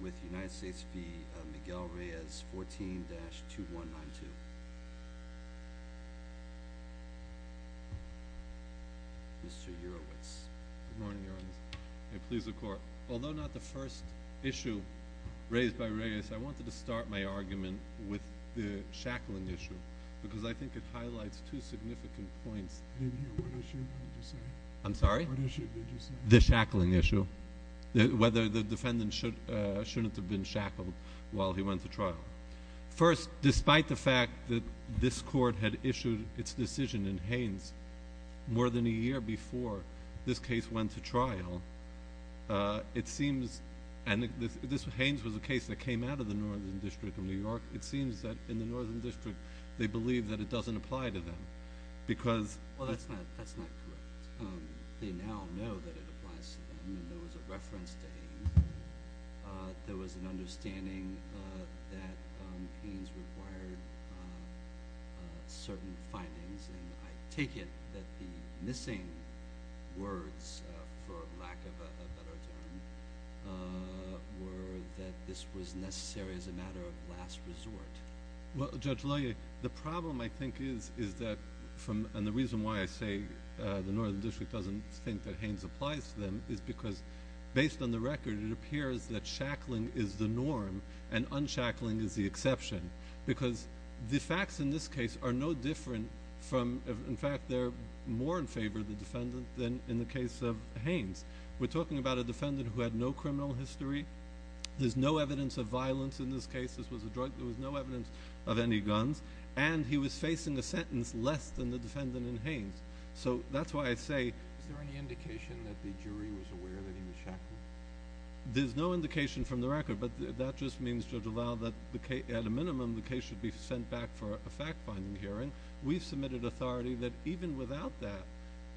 with United States v. Miguel Reyes, 14-2192. Mr. Urowitz. Good morning, Your Honor. May it please the Court. Although not the first issue raised by Reyes, I wanted to start my argument with the shackling issue because I think it highlights two significant points. What issue did you say? I'm sorry? What issue did you say? The shackling issue. Whether the defendant shouldn't have been shackled while he went to trial. First, despite the fact that this Court had issued its decision in Haines more than a year before this case went to trial, it seems, and Haines was a case that came out of the Northern District of New York, it seems that in the Northern District they believe that it doesn't apply to them because Well, that's not correct. they now know that it applies to them and there was a reference to Haines. There was an understanding that Haines required certain findings, and I take it that the missing words, for lack of a better term, were that this was necessary as a matter of last resort. Well, Judge Loyer, the problem, I think, is that from and the reason why I say the Northern District doesn't think that Haines applies to them is because based on the record it appears that shackling is the norm and unshackling is the exception because the facts in this case are no different from, in fact, they're more in favor of the defendant than in the case of Haines. We're talking about a defendant who had no criminal history, there's no evidence of violence in this case, there was no evidence of any guns, and he was facing a sentence less than the defendant in Haines. So that's why I say Is there any indication that the jury was aware that he was shackled? There's no indication from the record, but that just means, Judge Loyer, that at a minimum the case should be sent back for a fact-finding hearing. We've submitted authority that even without that,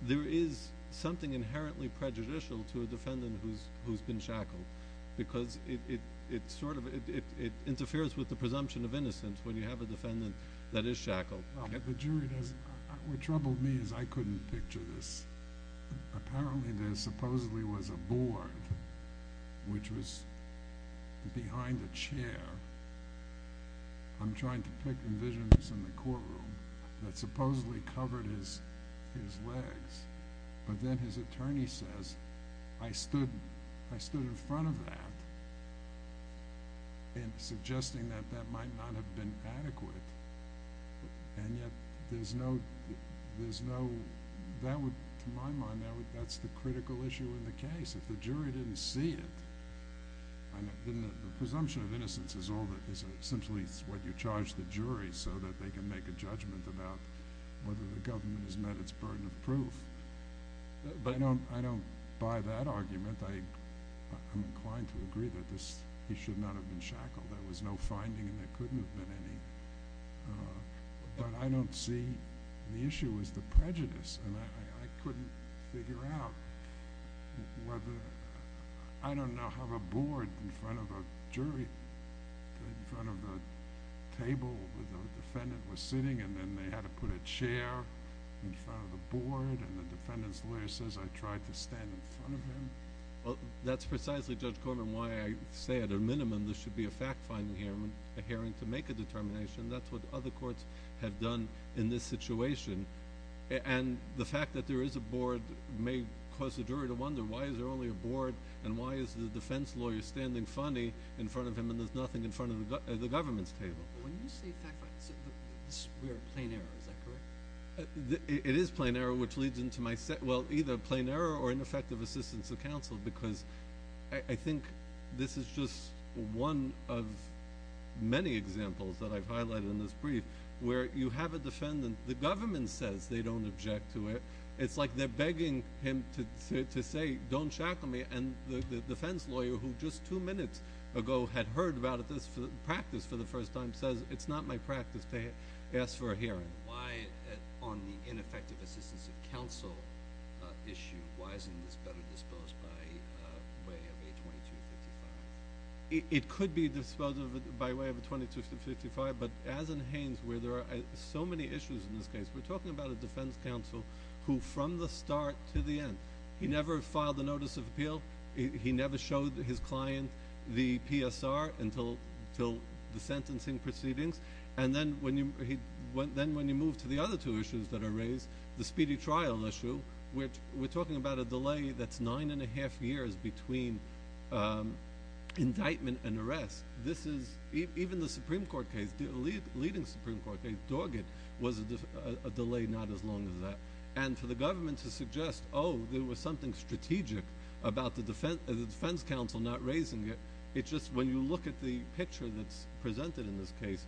there is something inherently prejudicial to a defendant who's been shackled because it interferes with the presumption of innocence when you have a defendant that is shackled. Well, the jury doesn't. What troubled me is I couldn't picture this. Apparently there supposedly was a board, which was behind a chair, I'm trying to pick the visions in the courtroom, that supposedly covered his legs, but then his attorney says, I stood in front of that and suggesting that that might not have been adequate, and yet there's no, to my mind, that's the critical issue in the case. If the jury didn't see it, then the presumption of innocence is essentially what you charge the jury so that they can make a judgment about whether the government has met its burden of proof. But I don't buy that argument. I'm inclined to agree that he should not have been shackled. There was no finding and there couldn't have been any. But I don't see... The issue is the prejudice, and I couldn't figure out whether... I don't know how a board in front of a jury, in front of a table where the defendant was sitting and then they had to put a chair in front of the board and the defendant's lawyer says, I tried to stand in front of him. Well, that's precisely, Judge Corman, why I say at a minimum there should be a fact-finding hearing to make a determination. That's what other courts have done in this situation. And the fact that there is a board may cause the jury to wonder, why is there only a board, and why is the defense lawyer standing funny in front of him and there's nothing in front of the government's table? When you say fact-finding, we are at plain error. Is that correct? It is plain error, which leads into my... Well, either plain error or ineffective assistance of counsel because I think this is just one of many examples that I've highlighted in this brief, where you have a defendant, the government says they don't object to it. It's like they're begging him to say, don't shackle me, and the defense lawyer who just two minutes ago had heard about this practice for the first time says, it's not my practice to ask for a hearing. Why, on the ineffective assistance of counsel issue, why isn't this better disposed by way of a 2255? It could be disposed of by way of a 2255, but as in Haynes where there are so many issues in this case, we're talking about a defense counsel who from the start to the end, he never filed a notice of appeal, he never showed his client the PSR until the sentencing proceedings, and then when you move to the other two issues that are raised, the speedy trial issue, we're talking about a delay that's nine and a half years between indictment and arrest. Even the Supreme Court case, the leading Supreme Court case, Doggett, was a delay not as long as that, and for the government to suggest, oh, there was something strategic about the defense counsel not raising it, it's just when you look at the picture that's presented in this case,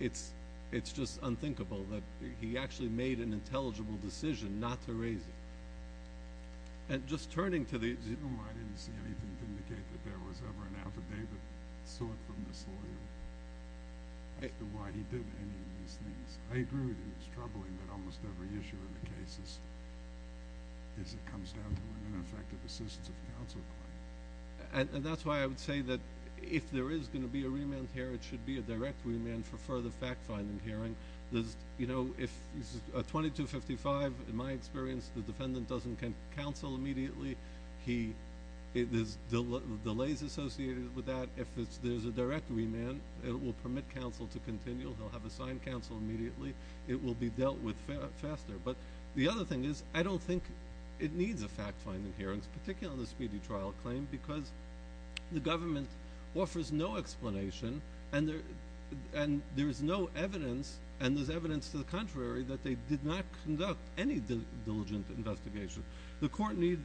it's just unthinkable that he actually made an intelligible decision not to raise it. And just turning to the— I didn't see anything to indicate that there was ever an affidavit sought from this lawyer as to why he did any of these things. I agree with him. It's troubling that almost every issue in the case comes down to an ineffective assistance of counsel claim. And that's why I would say that if there is going to be a remand here, it should be a direct remand for further fact-finding hearing. If a 2255, in my experience, the defendant doesn't counsel immediately, there's delays associated with that. If there's a direct remand, it will permit counsel to continue. He'll have assigned counsel immediately. It will be dealt with faster. But the other thing is I don't think it needs a fact-finding hearing, particularly on the speedy trial claim, because the government offers no explanation and there is no evidence, and there's evidence to the contrary, that they did not conduct any diligent investigation. The court needn't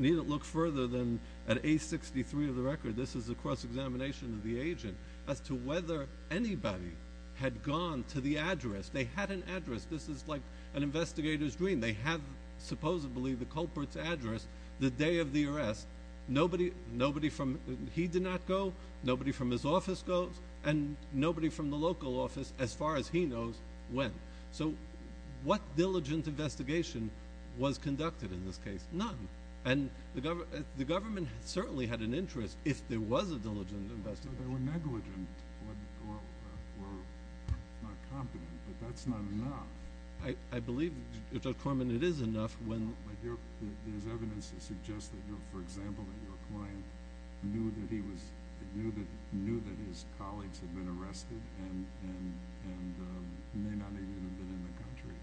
look further than at A63 of the record. This is a cross-examination of the agent as to whether anybody had gone to the address. They had an address. This is like an investigator's dream. They have, supposedly, the culprit's address the day of the arrest. Nobody from he did not go, nobody from his office goes, and nobody from the local office, as far as he knows, went. So what diligent investigation was conducted in this case? None. And the government certainly had an interest if there was a diligent investigation. They were negligent or not competent, but that's not enough. I believe, Judge Corman, it is enough when— But there's evidence that suggests that, for example, that your client knew that his colleagues had been arrested and may not even have been in the country.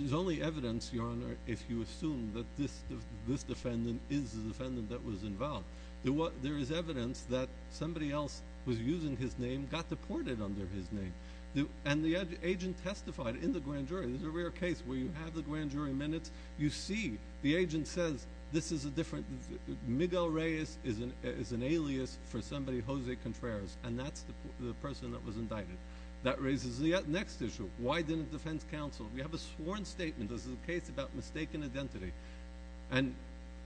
There's only evidence, Your Honor, if you assume that this defendant is the defendant that was involved. There is evidence that somebody else was using his name, got deported under his name, and the agent testified in the grand jury. This is a rare case where you have the grand jury minutes. You see the agent says, this is a different— Miguel Reyes is an alias for somebody, Jose Contreras, and that's the person that was indicted. That raises the next issue. Why didn't defense counsel? We have a sworn statement. This is a case about mistaken identity. And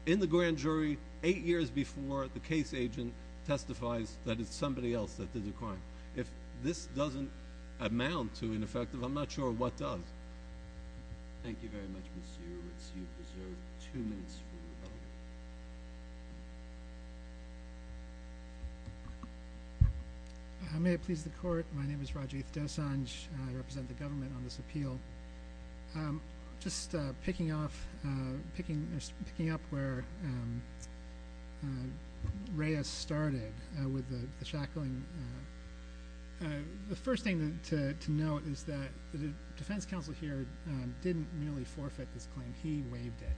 in the grand jury, eight years before, the case agent testifies that it's somebody else that did the crime. If this doesn't amount to ineffective, I'm not sure what does. Thank you very much, Monsieur. Let's see if we have two minutes for rebuttal. May it please the Court, my name is Rajiv Dosanjh. I represent the government on this appeal. Just picking up where Reyes started with the shackling, the first thing to note is that the defense counsel here didn't really forfeit this claim. He waived it.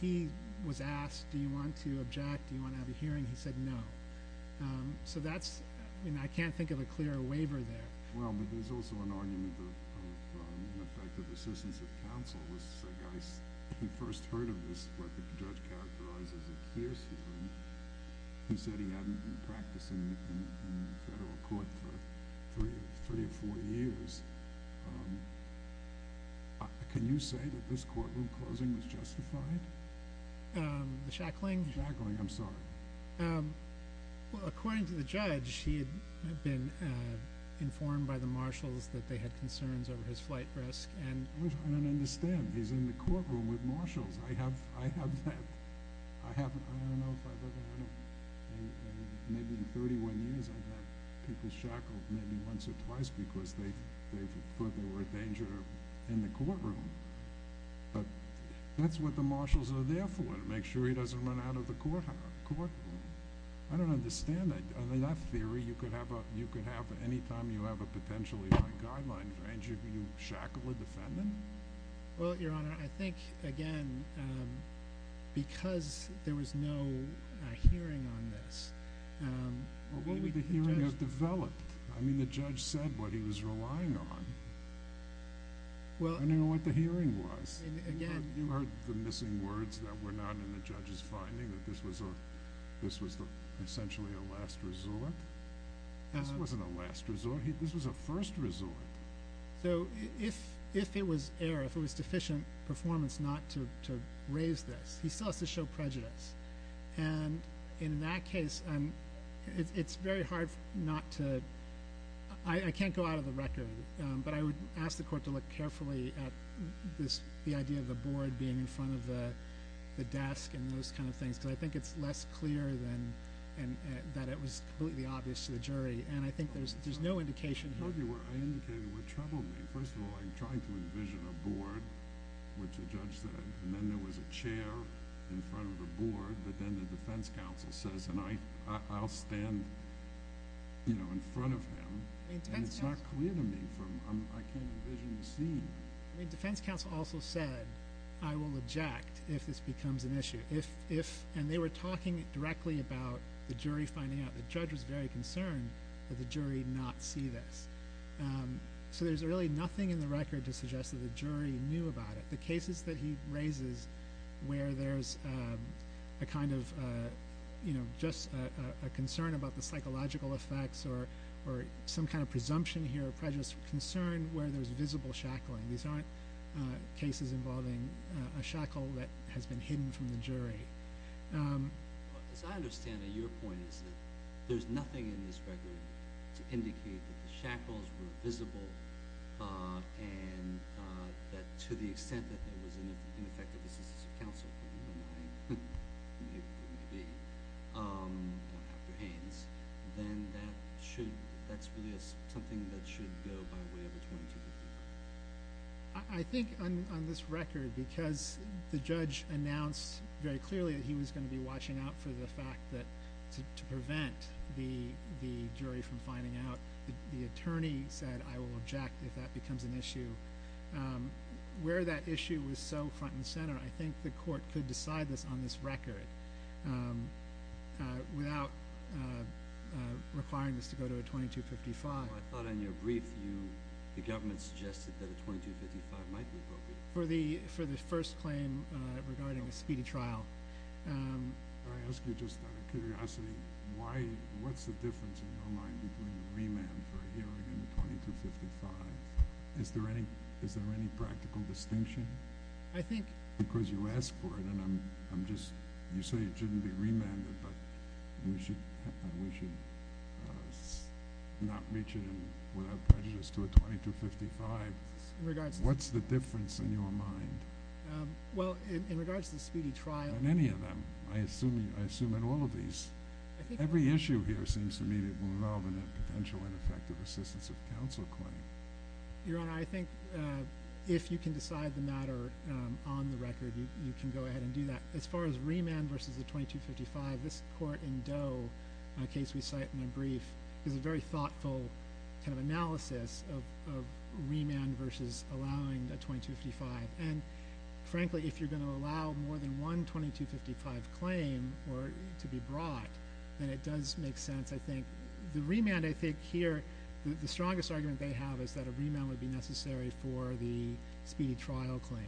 He was asked, do you want to object, do you want to have a hearing? He said no. So that's—I can't think of a clearer waiver there. Well, but there's also an argument of ineffective assistance of counsel. This is a guy who first heard of this, what the judge characterized as a hearsay. He said he hadn't been practicing in federal court for three or four years. Can you say that this courtroom closing was justified? The shackling? The shackling, I'm sorry. Well, according to the judge, he had been informed by the marshals that they had concerns over his flight risk. I don't understand. He's in the courtroom with marshals. I haven't—I don't know if I've ever—maybe in 31 years I've had people shackled maybe once or twice because they thought they were a danger in the courtroom. But that's what the marshals are there for, to make sure he doesn't run out of the courtroom. I don't understand that. I mean, that theory you could have anytime you have a potentially fine guideline for injury. You shackle a defendant? Well, Your Honor, I think, again, because there was no hearing on this— Well, what would the hearing have developed? I mean, the judge said what he was relying on. I don't know what the hearing was. You heard the missing words that were not in the judge's finding, that this was essentially a last resort? This wasn't a last resort. This was a first resort. So if it was error, if it was deficient performance not to raise this, he still has to show prejudice. And in that case, it's very hard not to—I can't go out of the record, but I would ask the court to look carefully at the idea of the board being in front of the desk and those kind of things, because I think it's less clear that it was completely obvious to the jury, and I think there's no indication here. I told you where I indicated what troubled me. First of all, I'm trying to envision a board, which the judge said, and then there was a chair in front of the board, but then the defense counsel says, and I'll stand in front of him, and it's not clear to me. I can't envision the scene. The defense counsel also said, I will eject if this becomes an issue. And they were talking directly about the jury finding out. The judge was very concerned that the jury not see this. So there's really nothing in the record to suggest that the jury knew about it. But the cases that he raises where there's a kind of, you know, just a concern about the psychological effects or some kind of presumption here of prejudice, concern where there's visible shackling. These aren't cases involving a shackle that has been hidden from the jury. As I understand it, your point is that there's nothing in this record to indicate that the shackles were visible and that to the extent that there was an effective assistance of counsel, who we don't know who he was going to be, Dr. Haynes, then that's really something that should go by way of a 22-53. I think on this record, because the judge announced very clearly that he was going to be watching out for the fact that to prevent the jury from finding out, the attorney said, I will object if that becomes an issue. Where that issue was so front and center, I think the court could decide this on this record without requiring this to go to a 22-55. I thought in your brief, the government suggested that a 22-55 might be appropriate. For the first claim regarding a speedy trial. I ask you just out of curiosity, what's the difference in your mind between a remand for a hearing and a 22-55? Is there any practical distinction? Because you asked for it and you say it shouldn't be remanded, but we should not reach it without prejudice to a 22-55. What's the difference in your mind? In regards to the speedy trial. In any of them. I assume in all of these. Every issue here seems to me to be involved in a potential ineffective assistance of counsel claim. Your Honor, I think if you can decide the matter on the record, you can go ahead and do that. As far as remand versus a 22-55, this court in Doe, a case we cite in my brief, is a very thoughtful analysis of remand versus allowing a 22-55. Frankly, if you're going to allow more than one 22-55 claim to be brought, then it does make sense. I think the remand here, the strongest argument they have is that a remand would be necessary for the speedy trial claim.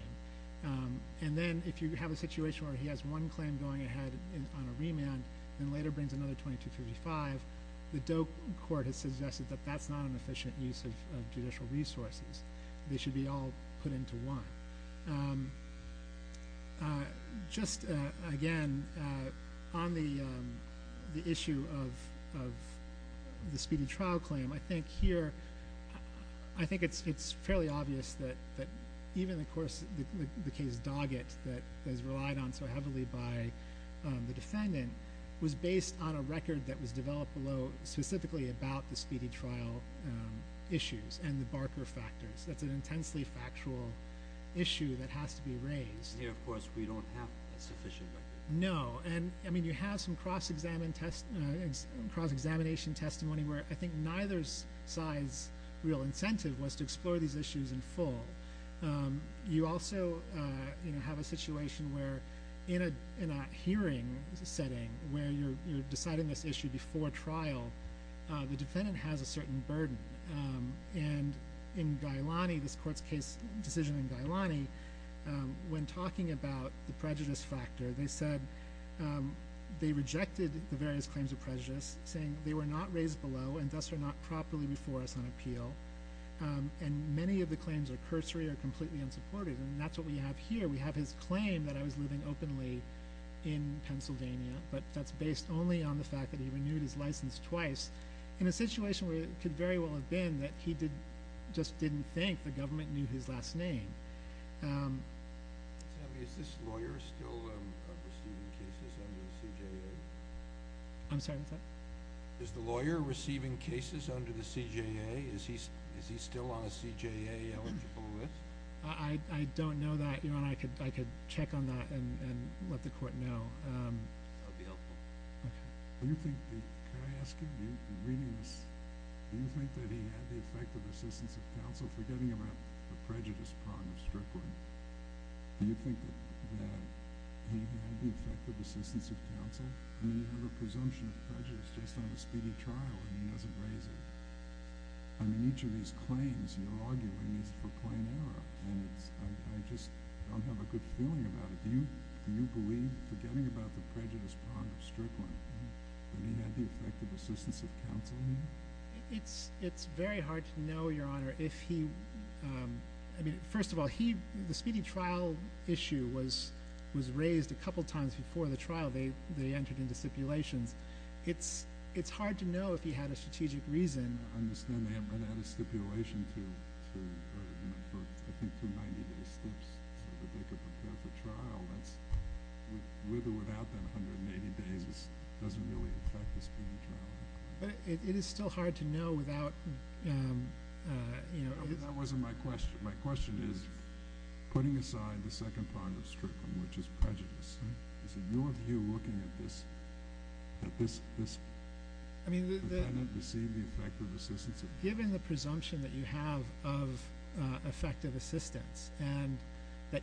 Then if you have a situation where he has one claim going ahead on a remand, then later brings another 22-55, the Doe court has suggested that that's not an efficient use of judicial resources. They should be all put into one. Just, again, on the issue of the speedy trial claim, I think here it's fairly obvious that even the case Doggett that is relied on so heavily by the defendant was based on a record that was developed specifically about the speedy trial issues and the Barker factors. That's an intensely factual issue that has to be raised. Here, of course, we don't have a sufficient record. No. You have some cross-examination testimony where I think neither side's real incentive was to explore these issues in full. You also have a situation where in a hearing setting where you're deciding this issue before trial, the defendant has a certain burden. In Gailani, this court's case decision in Gailani, when talking about the prejudice factor, they said they rejected the various claims of prejudice, saying they were not raised below and thus are not properly before us on appeal. Many of the claims are cursory or completely unsupported. That's what we have here. We have his claim that I was living openly in Pennsylvania, but that's based only on the fact that he renewed his license twice. In a situation where it could very well have been that he just didn't think the government knew his last name. Is this lawyer still receiving cases under the CJA? I'm sorry, what's that? Is the lawyer receiving cases under the CJA? Is he still on a CJA-eligible list? I don't know that, Your Honor. I could check on that and let the court know. That would be helpful. Can I ask you, reading this, do you think that he had the effective assistance of counsel forgetting about the prejudice prong of Strickland? Do you think that he had the effective assistance of counsel? I mean, you have a presumption of prejudice just on a speedy trial, and he doesn't raise it. I mean, each of these claims you're arguing is for plain error, and I just don't have a good feeling about it. Do you believe, forgetting about the prejudice prong of Strickland, that he had the effective assistance of counsel? It's very hard to know, Your Honor, if he— I mean, first of all, the speedy trial issue was raised a couple times before the trial. They entered into stipulations. It's hard to know if he had a strategic reason. I understand they had run out of stipulation for, I think, two 90-day steps so that they could prepare for trial. With or without that 180 days, it doesn't really affect the speedy trial. But it is still hard to know without— That wasn't my question. My question is, putting aside the second prong of Strickland, which is prejudice, is it your view, looking at this, that this defendant received the effective assistance of counsel? That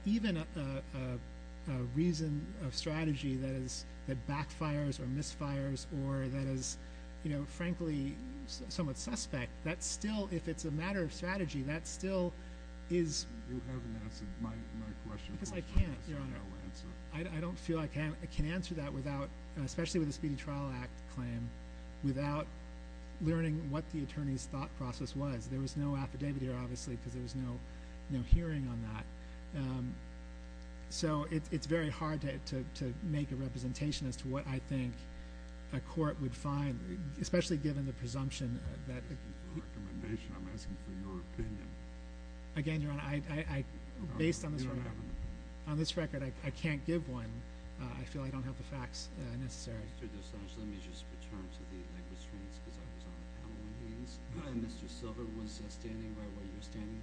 even a reason of strategy that backfires or misfires or that is, frankly, somewhat suspect, that still, if it's a matter of strategy, that still is— You haven't answered my question. Because I can't, Your Honor. I don't feel I can answer that without—especially with the Speedy Trial Act claim— without learning what the attorney's thought process was. There was no affidavit here, obviously, because there was no hearing on that. So it's very hard to make a representation as to what I think a court would find, especially given the presumption that— I'm not asking for a recommendation. I'm asking for your opinion. Again, Your Honor, based on this record— You don't have an opinion. On this record, I can't give one. I feel I don't have the facts necessary. Mr. DeSantis, let me just return to the linguistries because I was on the panel. Mr. Silver was standing right where you're standing,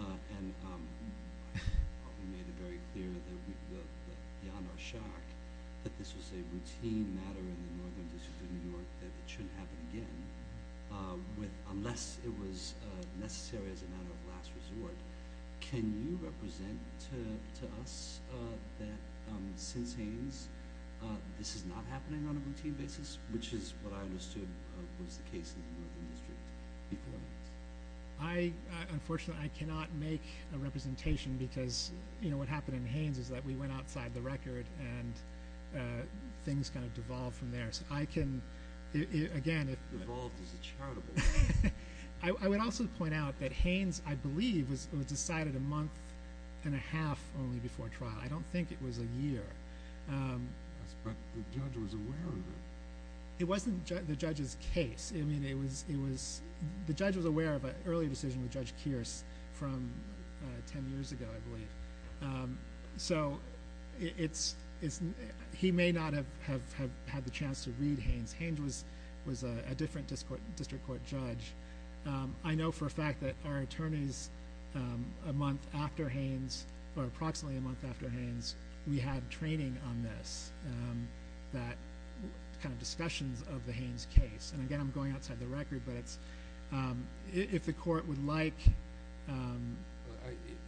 and we made it very clear that, beyond our shock, that this was a routine matter in the Northern District of New York, that it shouldn't happen again, unless it was necessary as a matter of last resort. Can you represent to us that, since Haines, this is not happening on a routine basis, which is what I understood was the case in the Northern District before this? Unfortunately, I cannot make a representation because what happened in Haines is that we went outside the record, and things kind of devolved from there. So I can— Devolved is a charitable thing. I would also point out that Haines, I believe, was decided a month and a half only before trial. I don't think it was a year. But the judge was aware of it. It wasn't the judge's case. The judge was aware of an earlier decision with Judge Kearse from 10 years ago, I believe. So he may not have had the chance to read Haines. Haines was a different district court judge. I know for a fact that our attorneys, a month after Haines, or approximately a month after Haines, we had training on this, that kind of discussions of the Haines case. And again, I'm going outside the record, but if the court would like—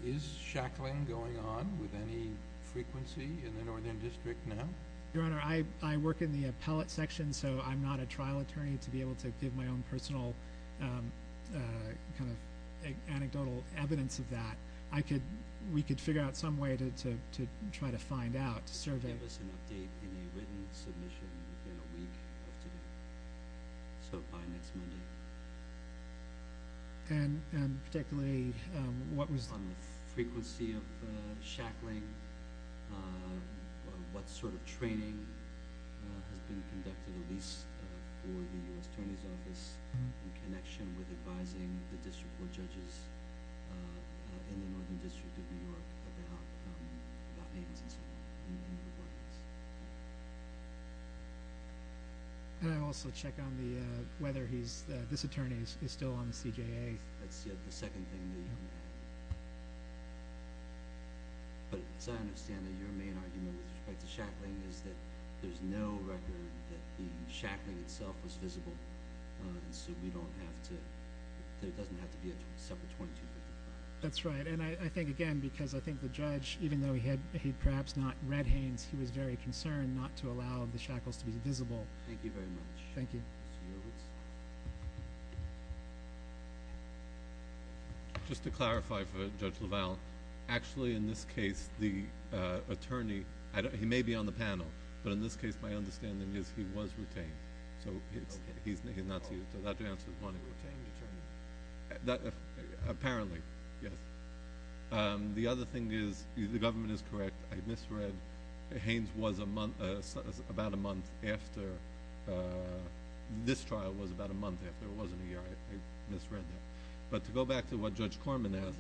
Is shackling going on with any frequency in the Northern District now? Your Honor, I work in the appellate section, so I'm not a trial attorney to be able to give my own personal kind of anecdotal evidence of that. I could—we could figure out some way to try to find out, to survey. They gave us an update in a written submission within a week of today, so by next Monday. And particularly, what was— On the frequency of shackling, what sort of training has been conducted, for the U.S. Attorney's Office in connection with advising the district court judges in the Northern District of New York about Haines and so forth in the regard to this? Can I also check on the—whether he's—this attorney is still on the CJA? That's the second thing that you can add. But as I understand it, your main argument with respect to shackling is that there's no record that the shackling itself was visible, and so we don't have to—there doesn't have to be a separate 2255. That's right, and I think, again, because I think the judge, even though he had perhaps not read Haines, he was very concerned not to allow the shackles to be visible. Thank you very much. Thank you. Just to clarify for Judge LaValle, actually, in this case, the attorney—he may be on the panel, but in this case, my understanding is he was retained. So he's not—so the answer is one, he was retained. Apparently, yes. The other thing is the government is correct. I misread Haines was a month—about a month after—this trial was about a month after. It wasn't a year. I misread that. But to go back to what Judge Corman asked—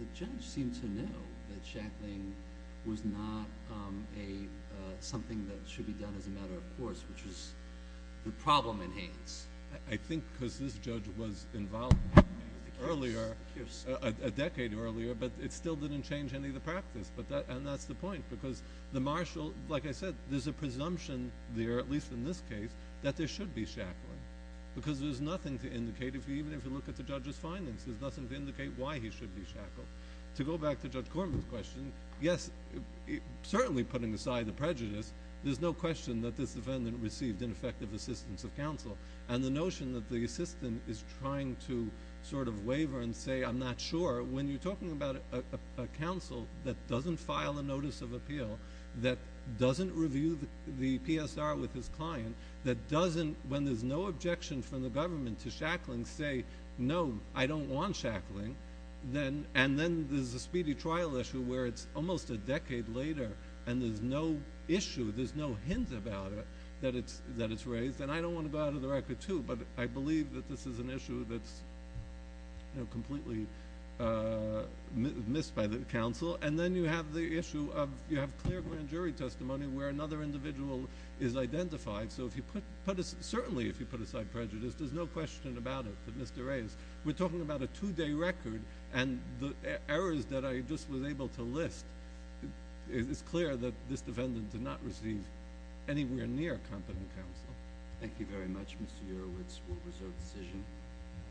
the judge seemed to know that shackling was not something that should be done as a matter of course, which was the problem in Haines. I think because this judge was involved earlier, a decade earlier, but it still didn't change any of the practice, and that's the point, because the marshal—like I said, there's a presumption there, at least in this case, that there should be shackling, because there's nothing to indicate, even if you look at the judge's findings, there's nothing to indicate why he should be shackled. To go back to Judge Corman's question, yes, certainly putting aside the prejudice, there's no question that this defendant received ineffective assistance of counsel, and the notion that the assistant is trying to sort of waver and say, I'm not sure, when you're talking about a counsel that doesn't file a notice of appeal, that doesn't review the PSR with his client, that doesn't, when there's no objection from the government to shackling, say, no, I don't want shackling, and then there's a speedy trial issue where it's almost a decade later, and there's no issue, there's no hint about it, that it's raised, and I don't want to go out of the record, too, but I believe that this is an issue that's completely missed by the counsel, and then you have the issue of, you have clear grand jury testimony where another individual is identified, so certainly if you put aside prejudice, there's no question about it that Mr. Reyes, we're talking about a two-day record, and the errors that I just was able to list, it's clear that this defendant did not receive anywhere near competent counsel. Thank you very much, Mr. Yearowitz. What was your decision?